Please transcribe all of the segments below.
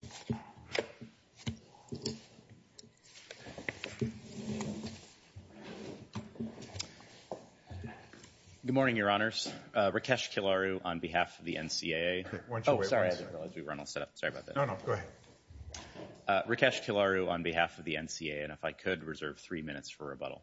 Good morning, Your Honors. Rakesh Kilaru on behalf of the NCAA and if I could reserve three minutes for rebuttal.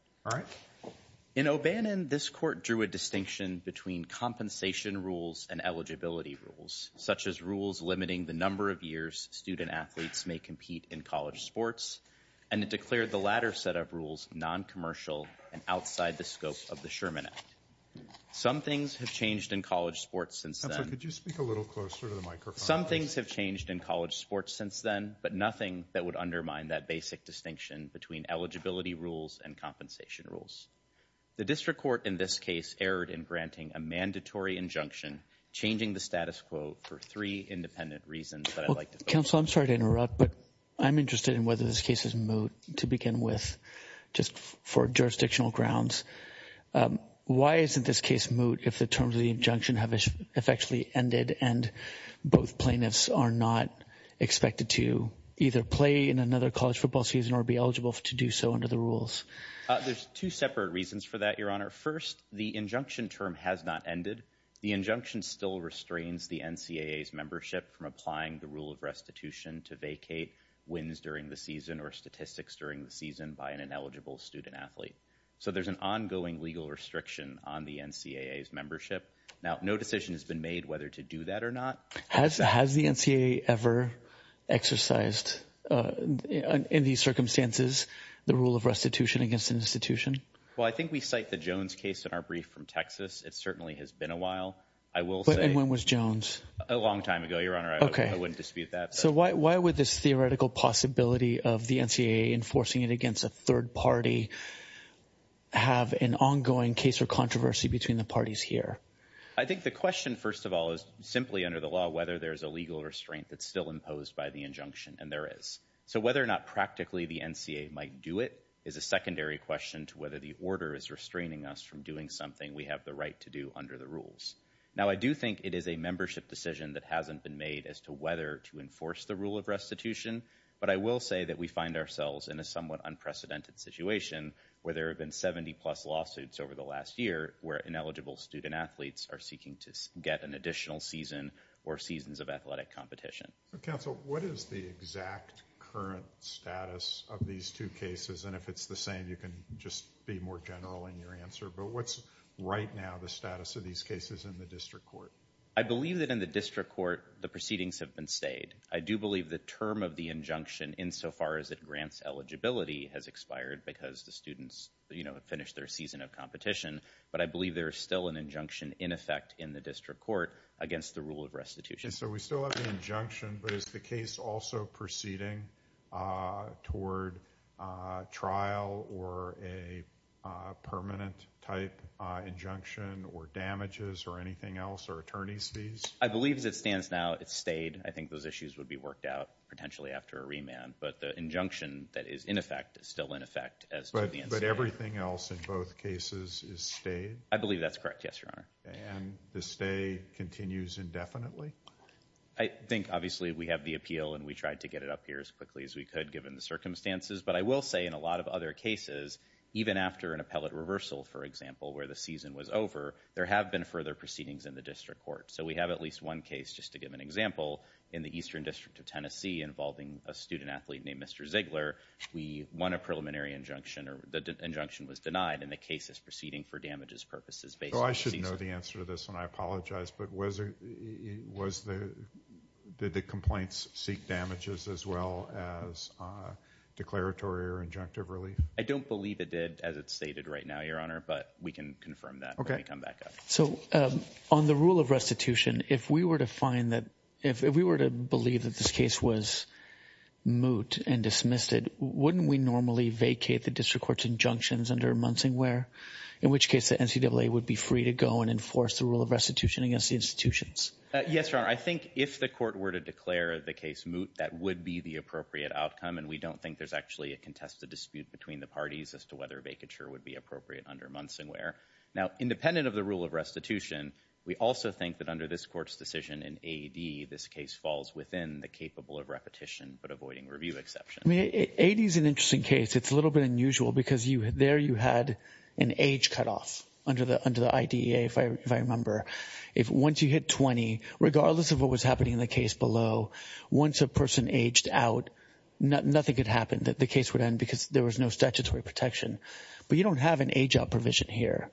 In O'Bannon, this court drew a distinction between compensation rules and eligibility rules, such as rules limiting the number of years student-athletes may compete in college sports, and it declared the latter set of rules non-commercial and outside the scope of the Sherman Act. Some things have changed in college sports since then. Some things have changed in college sports since then, but nothing that would undermine that basic distinction between eligibility rules and compensation rules. The district court in this case erred in granting a mandatory injunction, changing the status quo for three independent reasons that I'd like to focus on. Counsel, I'm sorry to interrupt, but I'm interested in whether this case is moot to begin with, just for jurisdictional grounds. Why isn't this case moot if the terms of the injunction have effectively ended and both plaintiffs are not expected to either play in another college football season or be eligible to do so under the rules? There's two separate reasons for that, Your Honor. First, the injunction term has not ended. The injunction still restrains the NCAA's membership from applying the rule of restitution to vacate wins during the season or statistics during the season by an ineligible student-athlete. So there's an ongoing legal restriction on the NCAA's membership. Now, no decision has been made whether to do that or not. Has the NCAA ever exercised in these circumstances the rule of restitution against an institution? Well, I think we cite the Jones case in our brief from Texas. It certainly has been a while. I will say- And when was Jones? A long time ago, Your Honor. I wouldn't dispute that. So why would this theoretical possibility of the NCAA enforcing it against a third party have an ongoing case or controversy between the parties here? I think the question, first of all, is simply under the law whether there's a legal restraint that's still imposed by the injunction, and there is. So whether or not practically the NCAA might do it is a secondary question to whether the order is restraining us from doing something we have the right to do under the rules. Now, I do think it is a membership decision that hasn't been made as to whether to enforce the rule of restitution, but I will say that we find ourselves in a somewhat unprecedented situation where there have been 70-plus lawsuits over the last year where ineligible student-athletes are seeking to get an additional season or seasons of athletic competition. So, counsel, what is the exact current status of these two cases? And if it's the same, you can just be more general in your answer. But what's right now the status of these cases in the district court? I believe that in the district court, the proceedings have been stayed. I do believe the term of the injunction, insofar as it grants eligibility, has expired because the students, you know, have finished their season of competition. But I believe there is still an injunction in effect in the district court against the rule of restitution. So we still have the injunction, but is the case also proceeding toward trial or a permanent type injunction or damages or anything else or attorney's fees? I believe as it stands now, it's stayed. I think those issues would be worked out potentially after a remand. But the injunction that is in effect is still in effect as to the But everything else in both cases is stayed? I believe that's correct. Yes, Your Honor. And the stay continues indefinitely? I think obviously we have the appeal and we tried to get it up here as quickly as we could given the circumstances. But I will say in a lot of other cases, even after an appellate reversal, for example, where the season was over, there have been further proceedings in the district court. So we have at least one case, just to give an example, in the Eastern District of Tennessee involving a student athlete named Mr. Ziegler. We won a preliminary injunction or the injunction was denied and the case is proceeding for damages purposes based on the season. Oh, I should know the answer to this and I apologize. But was it was the did the complaints seek damages as well as a declaratory or injunctive relief? I don't believe it did, as it's stated right now, Your Honor, but we can confirm that when we come back up. So on the rule of restitution, if we were to find that if we were to believe that this case was moot and dismissed it, wouldn't we normally vacate the district court's injunctions under Munsingware, in which case the NCAA would be free to go and enforce the rule of restitution against the institutions? Yes, Your Honor. I think if the court were to declare the case moot, that would be the appropriate outcome. And we don't think there's actually a contested dispute between the parties as to whether a vacature would be appropriate under Munsingware. Now, independent of the rule of restitution, we also think that under this court's decision in A.D., this case falls within the capable of repetition but avoiding review exception. I mean, A.D. is an interesting case. It's a little bit unusual because there you had an age cutoff under the IDEA, if I remember. Once you hit 20, regardless of what was happening in the case below, once a person aged out, nothing could happen. The case would end because there was no statutory protection. But you don't have an age out provision here.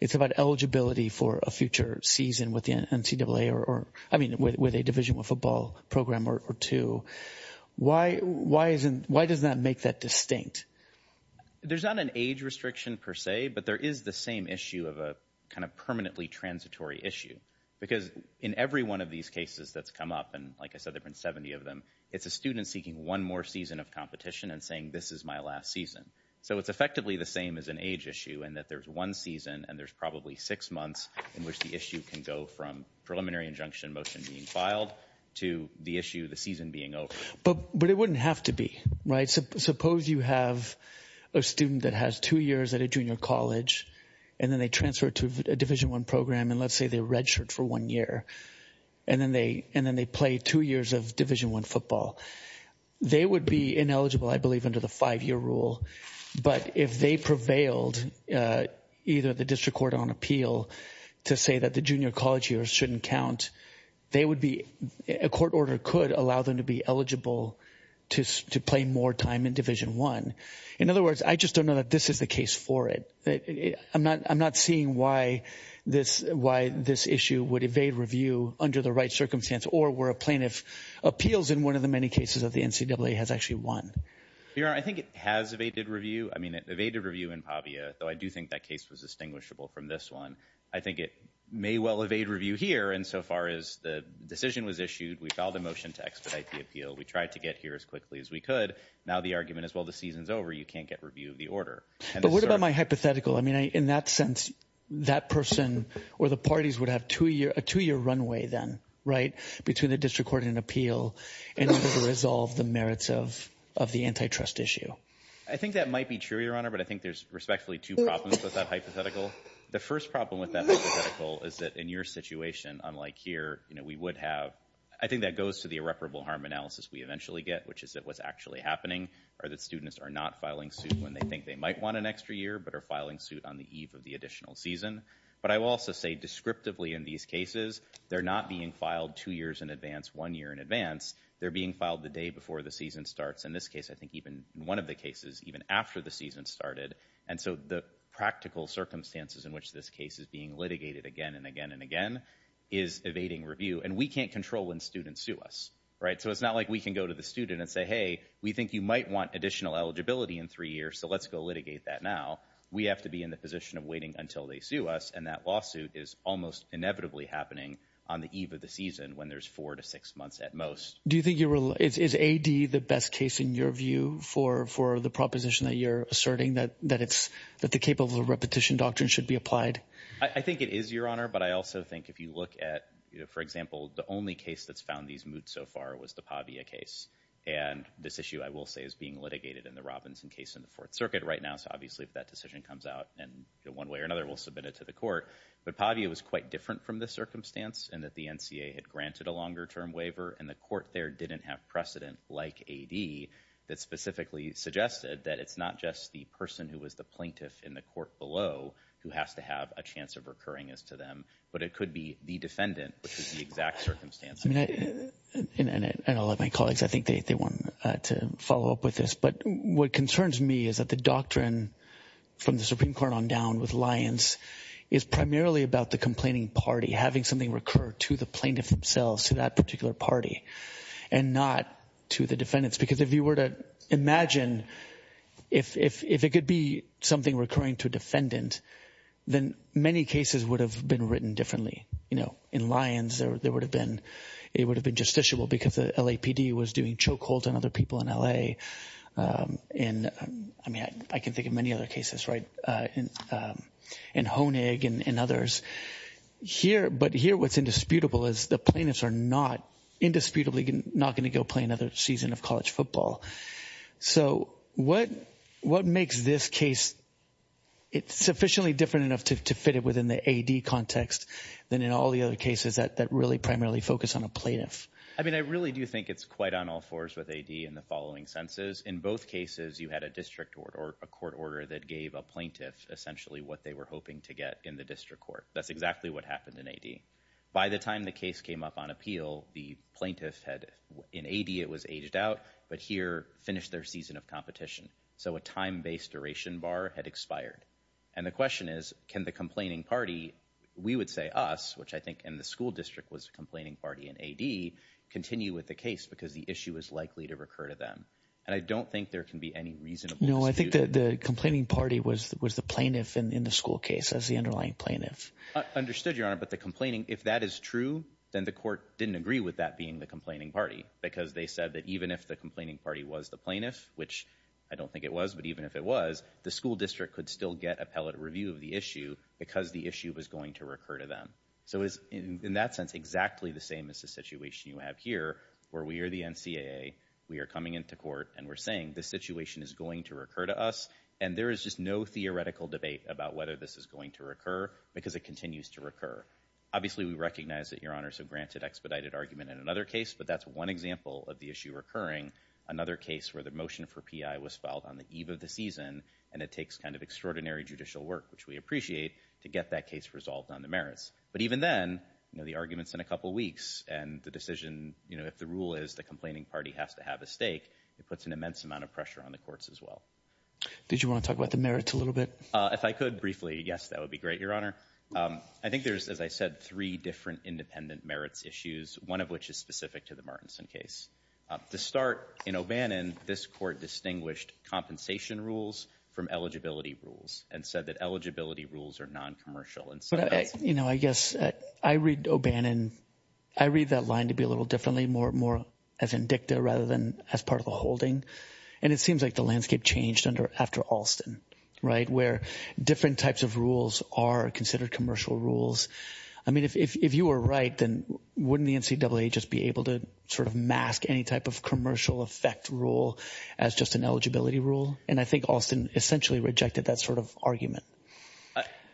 It's about eligibility for a future season with the NCAA or, I mean, with a Division I football program or two. Why does that make that distinct? There's not an age restriction per se, but there is the same issue of a kind of permanently transitory issue. Because in every one of these cases that's come up, and like I said, there have been 70 of them, it's a student seeking one more season of competition and saying this is my last season. So it's effectively the same as an age issue in that there's one season and there's probably six months in which the issue can go from preliminary injunction motion being filed to the issue, the season being over. But it wouldn't have to be, right? Suppose you have a student that has two years at a junior college and then they transfer to a Division I program and let's say they're registered for one year and then they play two years of Division I football. They would be ineligible, I believe, under the five-year rule. But if they prevailed, either the district court on appeal to say that the junior college years shouldn't count, they would be, a court order could allow them to be eligible to play more time in Division I. In other words, I just don't know that this is the case for it. I'm not seeing why this issue would evade review under the right circumstance or where a plaintiff appeals in one of the many cases that the Bureau, I think it has evaded review. I mean, it evaded review in Pavia, though I do think that case was distinguishable from this one. I think it may well evade review here insofar as the decision was issued. We filed a motion to expedite the appeal. We tried to get here as quickly as we could. Now the argument is, well, the season's over. You can't get review of the order. But what about my hypothetical? I mean, in that sense, that person or the parties would have a two-year runway then, right, between the district court and appeal in order to resolve the merits of the antitrust issue. I think that might be true, Your Honor, but I think there's respectfully two problems with that hypothetical. The first problem with that hypothetical is that in your situation, unlike here, you know, we would have, I think that goes to the irreparable harm analysis we eventually get, which is that what's actually happening are that students are not filing suit when they think they might want an extra year, but are filing suit on the eve of the additional season. But I will also say descriptively in these cases, they're not being filed two years in advance, one year in advance. They're being filed the day before the season starts. In this case, I think even in one of the cases, even after the season started. And so the practical circumstances in which this case is being litigated again and again and again is evading review. And we can't control when students sue us, right? So it's not like we can go to the student and say, hey, we think you might want additional eligibility in three years, so let's go litigate that now. We have to be in the position of waiting until they sue us, and that lawsuit is almost inevitably happening on the eve of the season when there's four to six months at most. Do you think you're, is AD the best case in your view for the proposition that you're asserting that it's, that the capable of repetition doctrine should be applied? I think it is, Your Honor, but I also think if you look at, for example, the only case that's found these moots so far was the Pavia case. And this issue I will say is being litigated in the Robinson case in the Fourth Circuit right now. So obviously if that decision comes out and one way or another, we'll submit it to the court. But Pavia was quite different from this circumstance in that the NCA had granted a longer term waiver and the court there didn't have precedent like AD that specifically suggested that it's not just the person who was the plaintiff in the court below who has to have a chance of recurring as to them, but it could be the defendant, which is the exact circumstances. And I'll let my colleagues, I think they want to follow up with this. But what concerns me is that the doctrine from the Supreme Court on down with Lyons is primarily about the plaintiff's complaining party, having something recur to the plaintiff themselves, to that particular party, and not to the defendants. Because if you were to imagine if it could be something recurring to a defendant, then many cases would have been written differently. You know, in Lyons, it would have been justiciable because the LAPD was doing chokeholds on other people in L.A. And I mean, I can think of many other cases, right, in Honig and others. But here what's indisputable is the plaintiffs are not indisputably not going to go play another season of college football. So what makes this case sufficiently different enough to fit it within the AD context than in all the other cases that really primarily focus on a plaintiff? I mean, I really do think it's quite on all fours with AD in the following senses. In both cases, you had a district or a court order that gave a plaintiff essentially what they were hoping to get in the district court. That's exactly what happened in AD. By the time the case came up on appeal, the plaintiff had, in AD it was aged out, but here finished their season of competition. So a time-based duration bar had expired. And the question is, can the complaining party, we would say us, which I think in the school district was complaining party in AD, continue with the case because the issue is likely to recur to them? And I don't think there can be any reasonable dispute. No, I think that the complaining party was the plaintiff in the school case, as the underlying plaintiff. Understood, Your Honor. But the complaining, if that is true, then the court didn't agree with that being the complaining party because they said that even if the complaining party was the plaintiff, which I don't think it was, but even if it was, the school district could still get appellate review of the issue because the issue was going to recur to them. So in that sense, exactly the same as the situation you have here where we are the NCAA, we are coming into court, and we're saying this situation is going to recur to us, and there is just no theoretical debate about whether this is going to recur because it continues to recur. Obviously, we recognize that, Your Honor, so granted expedited argument in another case, but that's one example of the issue recurring. Another case where the motion for PI was filed on the eve of the season, and it takes kind of extraordinary judicial work, which we appreciate, to get that case resolved on the merits. But even then, you know, the argument's in a couple weeks, and the decision, you know, if the rule is the complaining party has to have a stake, it puts an immense amount of pressure on the courts as well. Did you want to talk about the merits a little bit? If I could briefly, yes, that would be great, Your Honor. I think there's, as I said, three different independent merits issues, one of which is specific to the Martinson case. To start, in O'Bannon, this court distinguished compensation rules from eligibility rules and said that eligibility rules are non-commercial. But, you know, I guess I read O'Bannon, I read that line to be a little differently, more as indicative rather than as part of the holding, and it seems like the landscape changed under, after Alston, right, where different types of rules are considered commercial rules. I mean, if you were right, then wouldn't the NCAA just be able to sort of mask any type of commercial effect rule as just an eligibility rule? And I think Alston essentially rejected that sort of argument.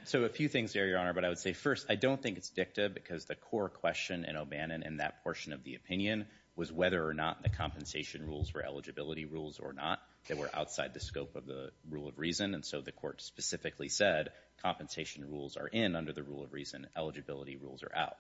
So a few things there, Your Honor, but I would say first, I don't think it's dicta because the core question in O'Bannon in that portion of the opinion was whether or not the compensation rules were eligibility rules or not. They were outside the scope of the rule of reason, and so the court specifically said compensation rules are in under the rule of reason, eligibility rules are out.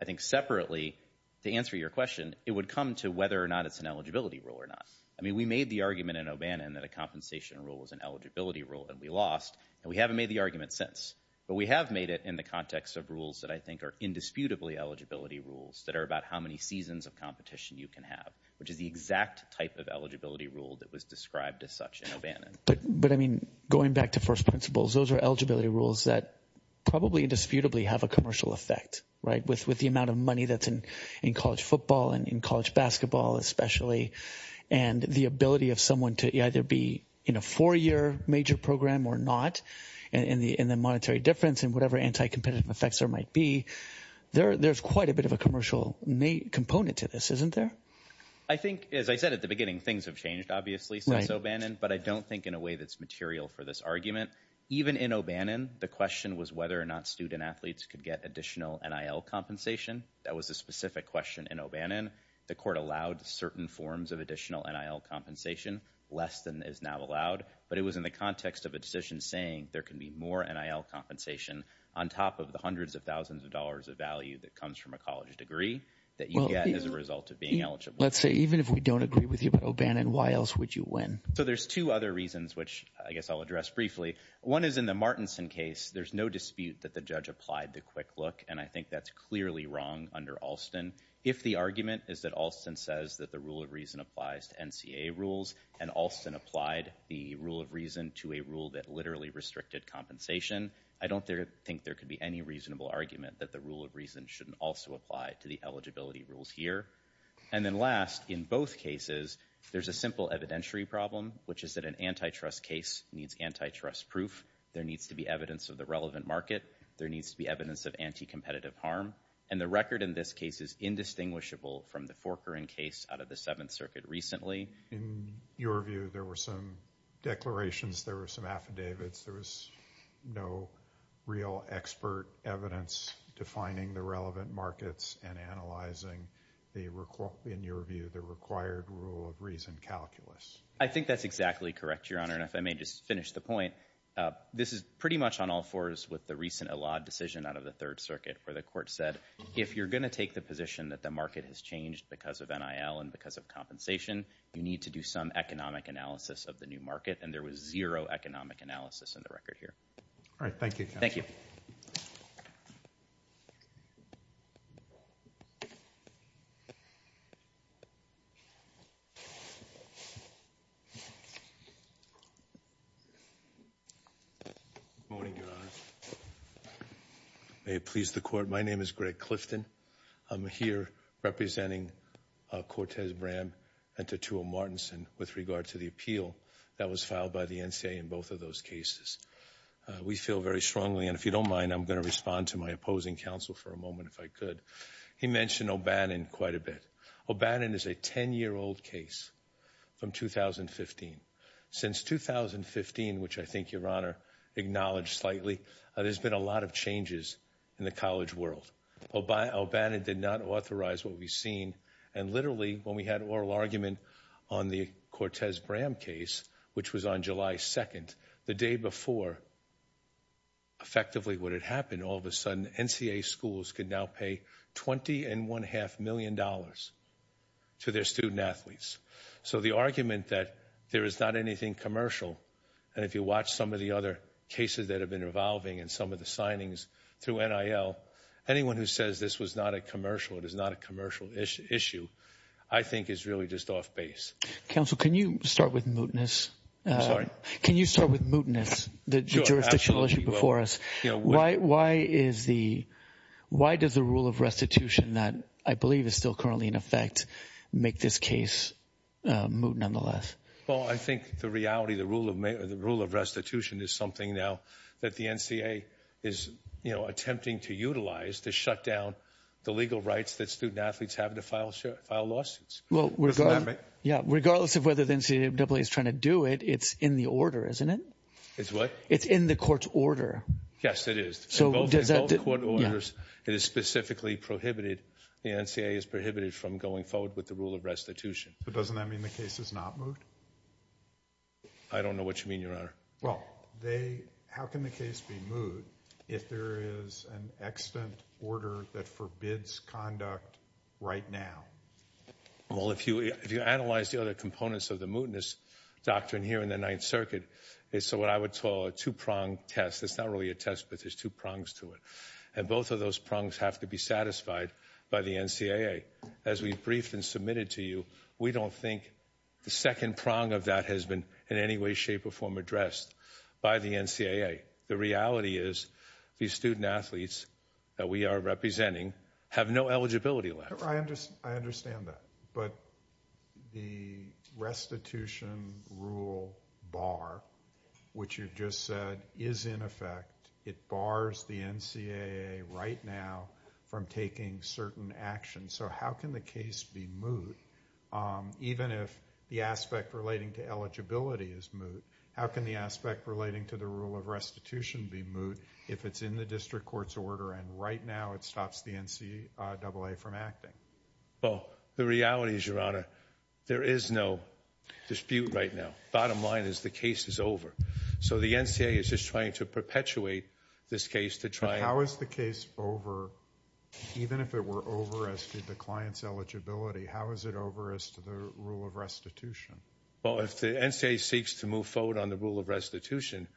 I think separately, to answer your question, it would come to whether or not it's an eligibility rule or not. I mean, we made the argument in O'Bannon that a compensation rule was an eligibility rule, and we lost, and we haven't made the argument since. But we have made it in the context of rules that I think are indisputably eligibility rules that are about how many seasons of competition you can have, which is the exact type of eligibility rule that was described as such in O'Bannon. But I mean, going back to first principles, those are eligibility rules that probably indisputably have a commercial effect, right, with the amount of money that's in college football and in college basketball, especially, and the ability of someone to either be in a four-year major program or not, and the monetary difference and whatever anti-competitive effects there might be, there's quite a bit of a commercial component to this, isn't there? I think, as I said at the beginning, things have changed, obviously, since O'Bannon, but I don't think in a way that's material for this argument. Even in O'Bannon, the question was whether or not student athletes could get additional NIL compensation. That was a specific question in O'Bannon. The court allowed certain forms of additional NIL compensation, less than is now allowed, but it was in the context of a decision saying there can be more NIL compensation on top of the hundreds of thousands of dollars of value that comes from a college degree that you get as a result of being eligible. Let's say, even if we don't agree with you about O'Bannon, why else would you win? So there's two other reasons, which I guess I'll address briefly. One is in the Martinson case, there's no dispute that the judge applied the quick look, and I think that's clearly wrong under Alston. If the argument is that Alston says that the rule of reason applies to NCA rules, and Alston applied the rule of reason to a rule that literally restricted compensation, I don't think there could be any reasonable argument that the rule of reason shouldn't also apply to the eligibility rules here. And then last, in both cases, there's a simple evidentiary problem, which is that an antitrust case needs antitrust proof. There needs to be evidence of the relevant market. There needs to be evidence of anti-competitive harm. And the record in this case is indistinguishable from the Forker and Case out of the Seventh Circuit recently. In your view, there were some declarations, there were some affidavits, there was no real expert evidence defining the relevant markets and analyzing the, in your view, the required rule of reason calculus. I think that's exactly correct, Your Honor. And if I may just finish the point, this is pretty much on all fours with the recent Elad decision out of the Third Circuit, where the court said, if you're going to take the position that the market has changed because of NIL and because of compensation, you need to do some economic analysis of the new market, and there was zero economic analysis in the record here. All right, thank you, counsel. Thank you. Good morning, Your Honor. May it please the Court, my name is Greg Clifton. I'm here representing Cortez-Bram and Tatuah-Martinson with regard to the appeal that was filed by the NCA in both of those cases. We feel very strongly, and if you don't mind, I'm going to respond to my opposing counsel for a moment, if I could. He mentioned O'Bannon quite a bit. O'Bannon is a 10-year-old case from 2015. Since 2015, which I think Your Honor acknowledged slightly, there's been a lot of changes in the college world. O'Bannon did not authorize what we've seen, and literally, when we had oral argument on the Cortez-Bram case, which was on July 2nd, the day before effectively what had happened, all of a sudden, NCA schools could now pay $20.5 million to their student-athletes. So the argument that there is not anything commercial, and if you watch some of the other cases that have been revolving and some of the signings through NIL, anyone who says this was not a commercial, it is not a commercial issue, I think is really just off base. Counsel, can you start with mootness? I'm sorry? Can you start with mootness, the jurisdictional issue before us? Why does the rule of restitution that I believe is still currently in effect make this case moot, nonetheless? Well, I think the reality, the rule of restitution is something now that the NCA is attempting to utilize to shut down the legal rights that student-athletes have to file lawsuits. Well, regardless of whether the NCAA is trying to do it, it's in the order, isn't it? It's what? It's in the court's order. Yes, it is. In both court orders, it is specifically prohibited, the NCA is prohibited from going forward with the rule of restitution. But doesn't that mean the case is not moot? I don't know what you mean, Your Honor. Well, how can the case be moot if there is an extant order that forbids conduct right now? Well, if you analyze the other components of the mootness doctrine here in the Ninth Circuit, it's what I would call a two-prong test. It's not really a test, but there's two prongs to it. And both of those prongs have to be satisfied by the NCAA. As we briefed and submitted to you, we don't think the second prong of that has been in any way, shape, or form addressed by the NCAA. The reality is these student-athletes that we are representing have no eligibility left. I understand that. But the restitution rule bar, which you just said is in effect, it bars the NCAA right now from taking certain actions. So how can the case be moot? Even if the aspect relating to eligibility is moot, how can the aspect relating to the rule of restitution be moot if it's in the district court's order and right now it stops the NCAA from acting? Well, the reality is, Your Honor, there is no dispute right now. The bottom line is the case is over. So the NCAA is just trying to perpetuate this case to try... But how is the case over, even if it were over as to the client's eligibility, how is it over as to the rule of restitution? Well, if the NCAA seeks to move forward on the rule of restitution,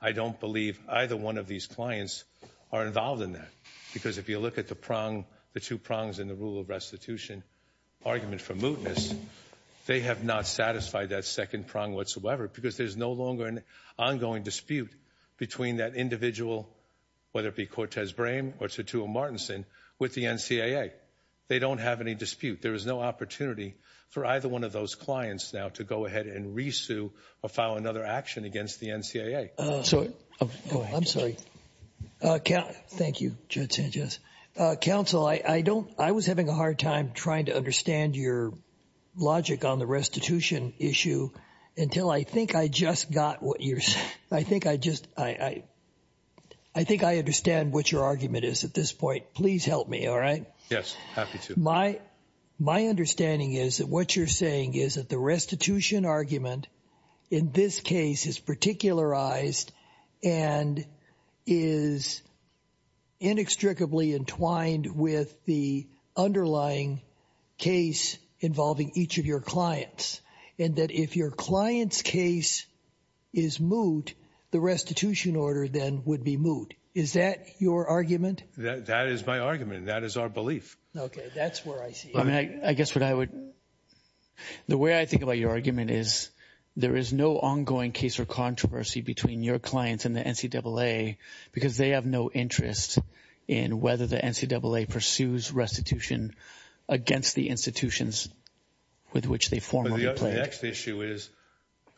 I don't believe either one of these clients are involved in that. Because if you look at the prong, the two prongs in the rule of restitution argument for mootness, they have not satisfied that second prong whatsoever because there's no longer an ongoing dispute between that individual, whether it be Cortez Brame or Tatuah Martinson, with the NCAA. They don't have any dispute. There is no opportunity for either one of those clients now to go ahead and re-sue or file another action against the NCAA. So... Go ahead. I'm sorry. Thank you, Judge Sanchez. Counsel, I don't... I was having a hard time trying to understand your logic on the restitution issue until I think I just got what you're... I think I just... I think I understand what your argument is at this point. Please help me, all right? Yes. Thank you. Happy to. My understanding is that what you're saying is that the restitution argument in this case is particularized and is inextricably entwined with the underlying case involving each of your clients. And that if your client's case is moot, the restitution order then would be moot. Is that your argument? That is my argument. And that is our belief. That's where I see it. I mean, I guess what I would... the way I think about your argument is there is no ongoing case or controversy between your clients and the NCAA because they have no interest in whether the NCAA pursues restitution against the institutions with which they formally played. But the next issue is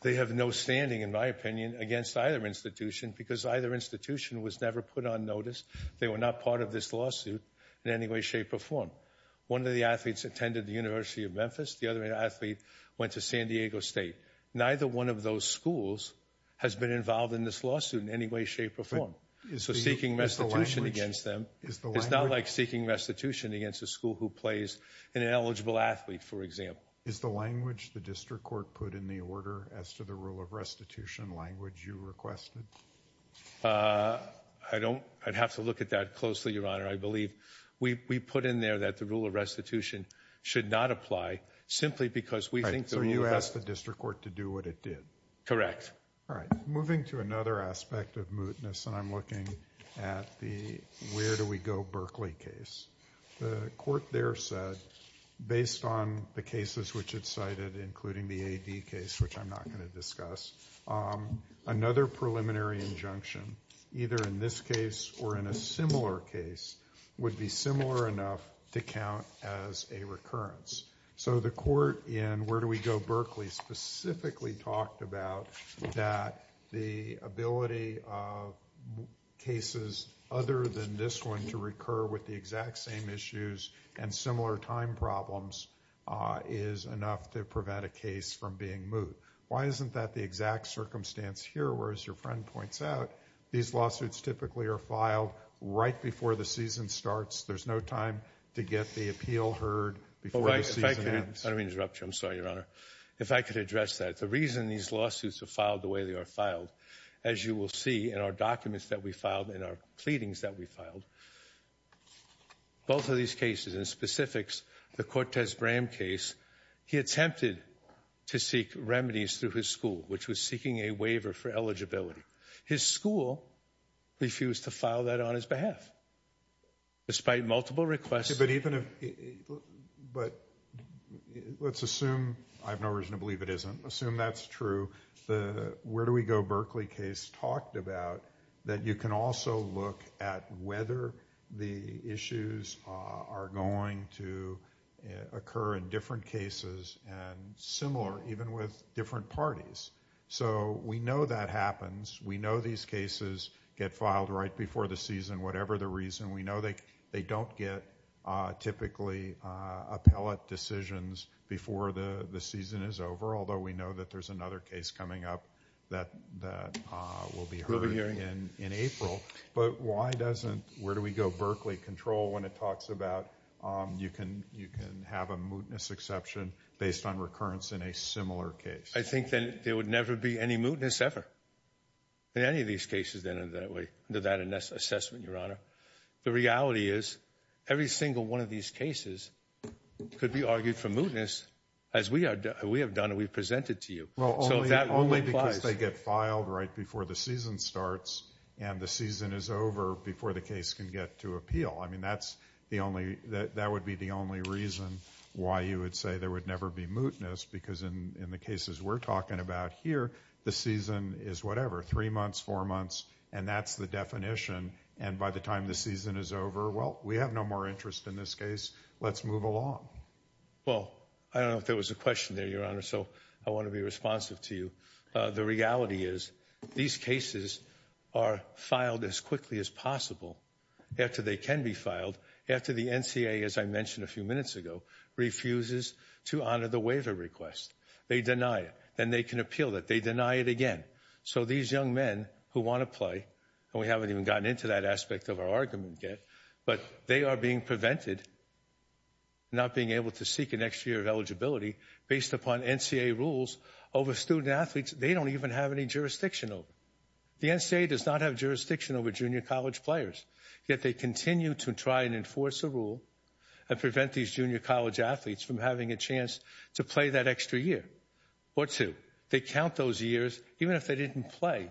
they have no standing, in my opinion, against either institution because either institution was never put on notice. They were not part of this lawsuit in any way, shape, or form. One of the athletes attended the University of Memphis. The other athlete went to San Diego State. Neither one of those schools has been involved in this lawsuit in any way, shape, or form. So seeking restitution against them... Is the language... It's not like seeking restitution against a school who plays an ineligible athlete, for example. Is the language the district court put in the order as to the rule of restitution language you requested? I don't... I'd have to look at that closely, Your Honor. I believe we put in there that the rule of restitution should not apply simply because we think the rule... So you asked the district court to do what it did. Correct. All right. Moving to another aspect of mootness, and I'm looking at the Where Do We Go Berkeley case. The court there said, based on the cases which it cited, including the A.D. case, which I'm preliminary injunction, either in this case or in a similar case, would be similar enough to count as a recurrence. So the court in Where Do We Go Berkeley specifically talked about that the ability of cases other than this one to recur with the exact same issues and similar time problems is enough to prevent a case from being moot. Why isn't that the exact circumstance here, where, as your friend points out, these lawsuits typically are filed right before the season starts? There's no time to get the appeal heard before the season ends? If I can... I don't mean to interrupt you. I'm sorry, Your Honor. If I could address that. The reason these lawsuits are filed the way they are filed, as you will see in our documents that we filed and our pleadings that we filed, both of these cases, in specifics, the Cortez remedies through his school, which was seeking a waiver for eligibility. His school refused to file that on his behalf. Despite multiple requests... But even if... But let's assume, I have no reason to believe it isn't, assume that's true, the Where Do We Go Berkeley case talked about that you can also look at whether the issues are going to occur in different cases and similar, even with different parties. So we know that happens. We know these cases get filed right before the season, whatever the reason. We know they don't get, typically, appellate decisions before the season is over, although we know that there's another case coming up that will be heard in April. But why doesn't Where Do We Go Berkeley control when it talks about you can have a mootness exception based on recurrence in a similar case? I think that there would never be any mootness ever in any of these cases under that assessment, Your Honor. The reality is every single one of these cases could be argued for mootness, as we have done and we've presented to you. So that only applies...... when the season is over before the case can get to appeal. I mean, that's the only... that would be the only reason why you would say there would never be mootness, because in the cases we're talking about here, the season is whatever, three months, four months, and that's the definition. And by the time the season is over, well, we have no more interest in this case. Let's move along. Well, I don't know if there was a question there, Your Honor, so I want to be responsive to you. The reality is these cases are filed as quickly as possible, after they can be filed, after the NCAA, as I mentioned a few minutes ago, refuses to honor the waiver request. They deny it. Then they can appeal it. They deny it again. So these young men who want to play, and we haven't even gotten into that aspect of our argument yet, but they are being prevented, not being able to seek an extra year of eligibility based upon NCAA rules over student-athletes they don't even have any jurisdiction over. The NCAA does not have jurisdiction over junior college players, yet they continue to try and enforce a rule and prevent these junior college athletes from having a chance to play that extra year or two. They count those years, even if they didn't play,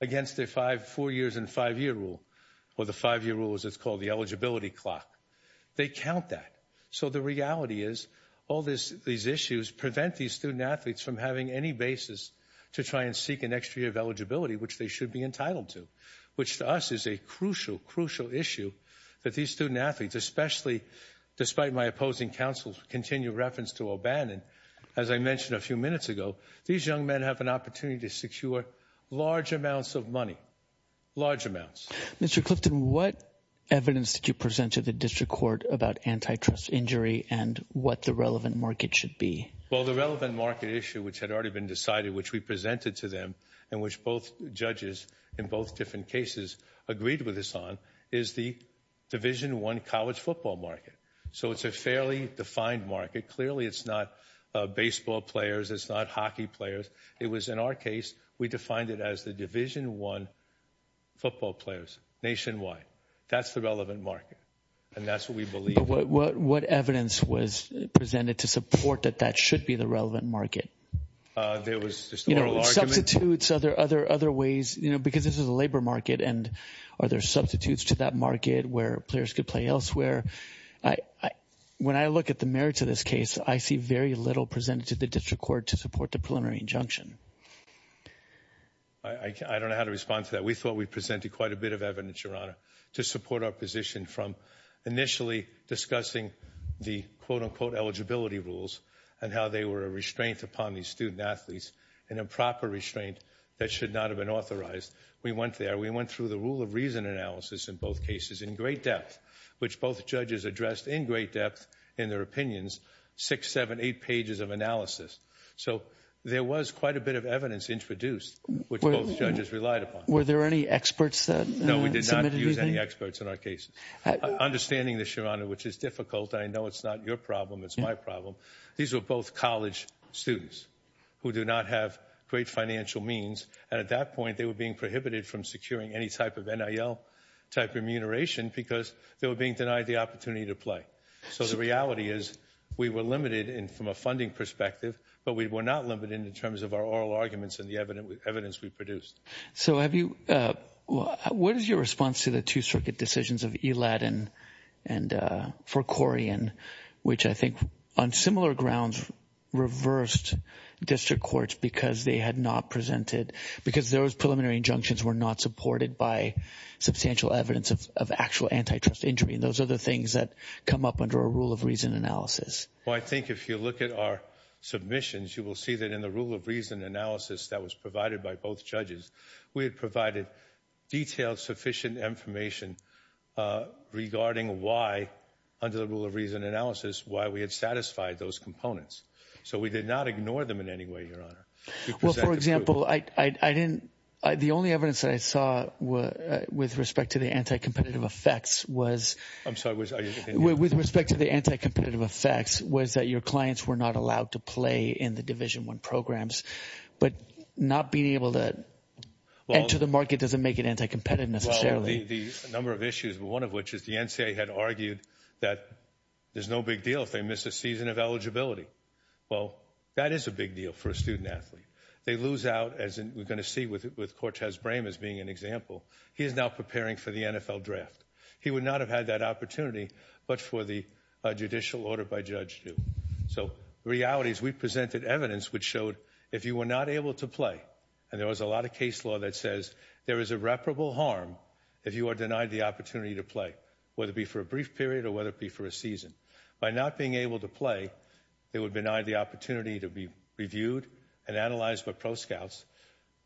against their five... four years and five-year rule, or the five-year rule, as it's called, the eligibility clock. They count that. So the reality is all these issues prevent these student-athletes from having any basis to try and seek an extra year of eligibility, which they should be entitled to, which to us is a crucial, crucial issue that these student-athletes, especially despite my opposing counsel's continued reference to O'Bannon, as I mentioned a few minutes ago, these young men have an opportunity to secure large amounts of money. Large amounts. Mr. Clifton, what evidence did you present to the District Court about antitrust injury and what the relevant market should be? Well, the relevant market issue, which had already been decided, which we presented to them and which both judges in both different cases agreed with us on, is the Division I college football market. So it's a fairly defined market. Clearly it's not baseball players, it's not hockey players. It was, in our case, we defined it as the Division I football players nationwide. That's the relevant market. And that's what we believe. What evidence was presented to support that that should be the relevant market? There was just an oral argument. You know, substitutes, other ways, you know, because this is a labor market and are there substitutes to that market where players could play elsewhere? When I look at the merits of this case, I see very little presented to the District Court. I don't know how to respond to that. We thought we presented quite a bit of evidence, Your Honor, to support our position from initially discussing the quote-unquote eligibility rules and how they were a restraint upon these student athletes and a proper restraint that should not have been authorized. We went there. We went through the rule of reason analysis in both cases in great depth, which both judges addressed in great depth in their opinions, six, seven, eight pages of analysis. So there was quite a bit of evidence introduced, which both judges relied upon. Were there any experts that submitted anything? No, we did not use any experts in our cases. Understanding this, Your Honor, which is difficult, I know it's not your problem, it's my problem, these were both college students who do not have great financial means, and at that point they were being prohibited from securing any type of NIL-type remuneration because they were being denied the opportunity to play. So the reality is we were limited from a funding perspective, but we were not limited in terms of our oral arguments and the evidence we produced. So what is your response to the two-circuit decisions of Elad and Forcorian, which I think on similar grounds reversed district courts because they had not presented, because those preliminary injunctions were not supported by substantial evidence of actual antitrust injury, and those are the things that come up under a rule of reason analysis. Well, I think if you look at our submissions, you will see that in the rule of reason analysis that was provided by both judges, we had provided detailed, sufficient information regarding why, under the rule of reason analysis, why we had satisfied those components. So we did not ignore them in any way, Your Honor. Well, for example, I didn't, the only evidence that I saw with respect to the anti-competitive effects was, with respect to the anti-competitive effects was that your clients were not allowed to play in the Division I programs, but not being able to enter the market doesn't make it anti-competitive necessarily. Well, the number of issues, one of which is the NCAA had argued that there's no big deal if they miss a season of eligibility. Well, that is a big deal for a student athlete. They lose out, as we're going to see with Cortez Brame as being an example. He is now preparing for the NFL draft. He would not have had that opportunity but for the judicial order by Judge Hsu. So the reality is we presented evidence which showed if you were not able to play, and there was a lot of case law that says there is irreparable harm if you are denied the opportunity to play, whether it be for a brief period or whether it be for a season. By not being able to play, they would be denied the opportunity to be reviewed and analyzed by Pro Scouts,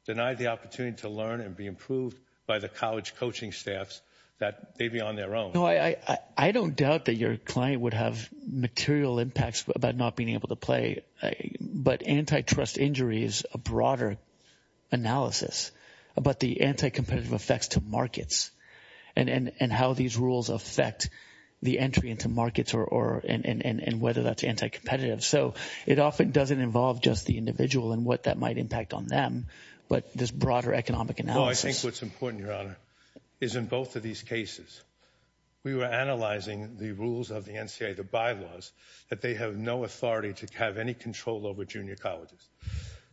denied the opportunity to learn and be improved by the college coaching staffs that they'd be on their own. I don't doubt that your client would have material impacts about not being able to play, but antitrust injury is a broader analysis about the anti-competitive effects to markets and how these rules affect the entry into markets and whether that's anti-competitive. So it often doesn't involve just the individual and what that might impact on them, but this broader economic analysis. No, I think what's important, Your Honor, is in both of these cases, we were analyzing the rules of the NCAA, the bylaws, that they have no authority to have any control over junior colleges.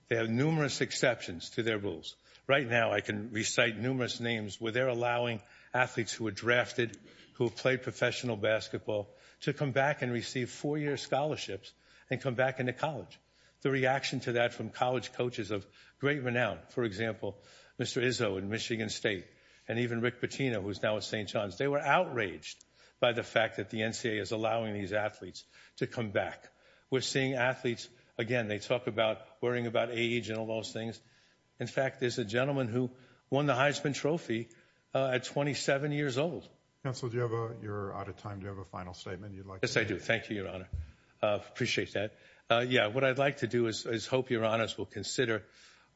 They have numerous exceptions to their rules. Right now, I can recite numerous names where they're allowing athletes who were drafted, who played professional basketball, to come back and receive four-year scholarships and come back into college. The reaction to that from college coaches of great renown, for example, Mr. Izzo in Michigan State and even Rick Pitino, who's now at St. John's, they were outraged by the fact that the NCAA is allowing these athletes to come back. We're seeing athletes, again, they talk about worrying about age and all those things. In fact, there's a gentleman who won the Heisman Trophy at 27 years old. Counsel, you're out of time. Do you have a final statement you'd like to make? Yes, I do. Thank you, Your Honor. Appreciate that. Yeah, what I'd like to do is hope Your Honors will consider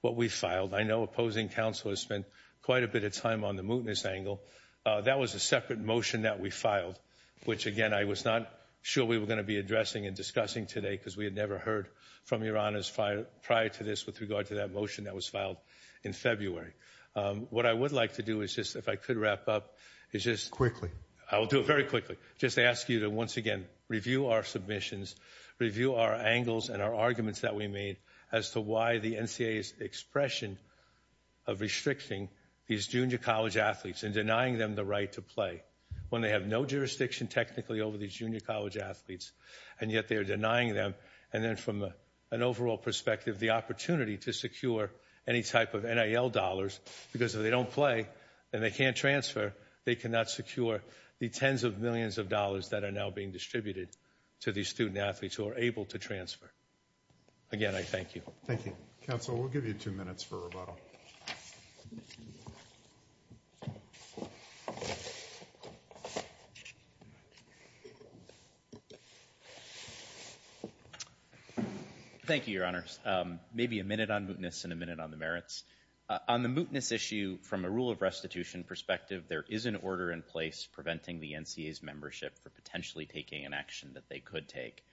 what we filed. I know opposing counsel has spent quite a bit of time on the mootness angle. That was a separate motion that we filed, which again, I was not sure we were going to be addressing and discussing today because we had never heard from Your Honors prior to this with regard to that motion that was filed in February. What I would like to do is just, if I could wrap up, is just quickly, I'll do it very quickly, just ask you to once again, review our submissions, review our angles and our arguments that we made as to why the NCAA's expression of restricting these junior college athletes and denying them the right to play when they have no jurisdiction technically over these junior college athletes, and yet they're denying them. And then from an overall perspective, the opportunity to secure any type of NIL dollars because if they don't play and they can't transfer, they cannot secure the tens of millions of dollars that are now being distributed to these student athletes who are able to transfer. Again, I thank you. Thank you. Counsel, we'll give you two minutes for rebuttal. Thank you, Your Honors. Maybe a minute on mootness and a minute on the merits. On the mootness issue, from a rule of restitution perspective, there is an order in place preventing the NCAA's membership for potentially taking an action that they could take.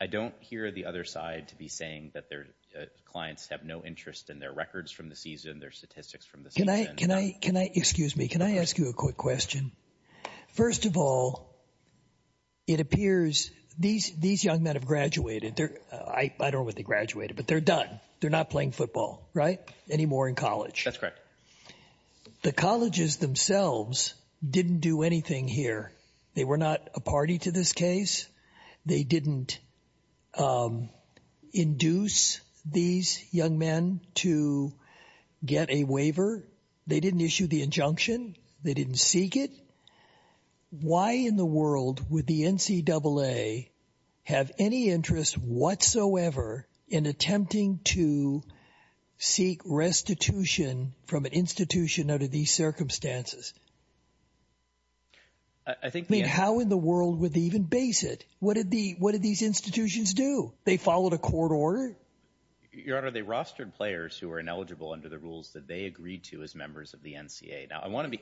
I don't hear the other side to be saying that their clients have no interest in their records from the season, their statistics from the season. Can I, can I, can I, excuse me, can I ask you a quick question? First of all, it appears these, these young men have graduated. I don't know when they graduated, but they're done. They're not playing football, right? Anymore in college. That's correct. The colleges themselves didn't do anything here. They were not a party to this case. They didn't induce these young men to get a waiver. They didn't issue the injunction. They didn't seek it. Why in the world would the NCAA have any interest whatsoever in attempting to seek restitution from an institution under these circumstances? I think, I mean, how in the world would they even base it? What did the, what did these institutions do? They followed a court order? Your Honor, they rostered players who were ineligible under the rules that they agreed to as members of the NCAA. Now, I want to be,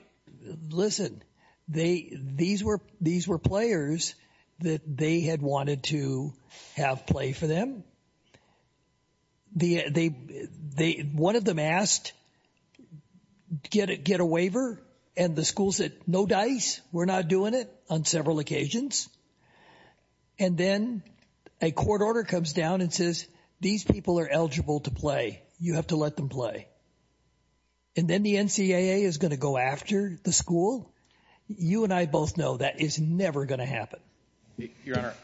listen, they, these were, these were players that they had wanted to have play for them. The, they, they, one of them asked, get it, get a waiver. And the school said, no dice. We're not doing it on several occasions. And then a court order comes down and says, these people are eligible to play. You have to let them play. And then the NCAA is going to go after the school? You and I both know that is never going to happen. Your Honor,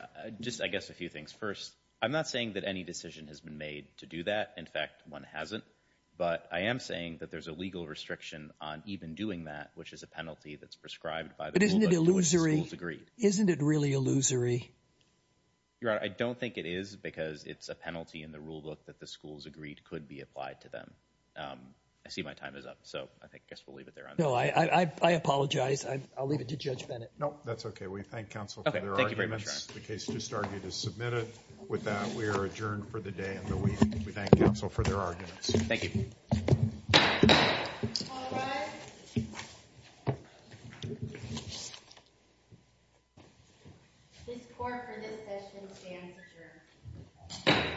just, I guess, a few things. First, I'm not saying that any decision has been made to do that. In fact, one hasn't. But I am saying that there's a legal restriction on even doing that, which is a penalty that's prescribed by the rule book to which the schools agreed. Isn't it illusory? Isn't it really illusory? Your Honor, I don't think it is because it's a penalty in the rule book that the schools agreed could be applied to them. I see my time is up, so I guess we'll leave it there, Your Honor. No, I apologize. I'll leave it to Judge Bennett. No, that's okay. We thank counsel for their arguments. Okay, thank you very much, Your Honor. The case just argued is submitted. With that, we are adjourned for the day and the week. We thank counsel for their arguments. Thank you. All rise. This court for this session stands adjourned.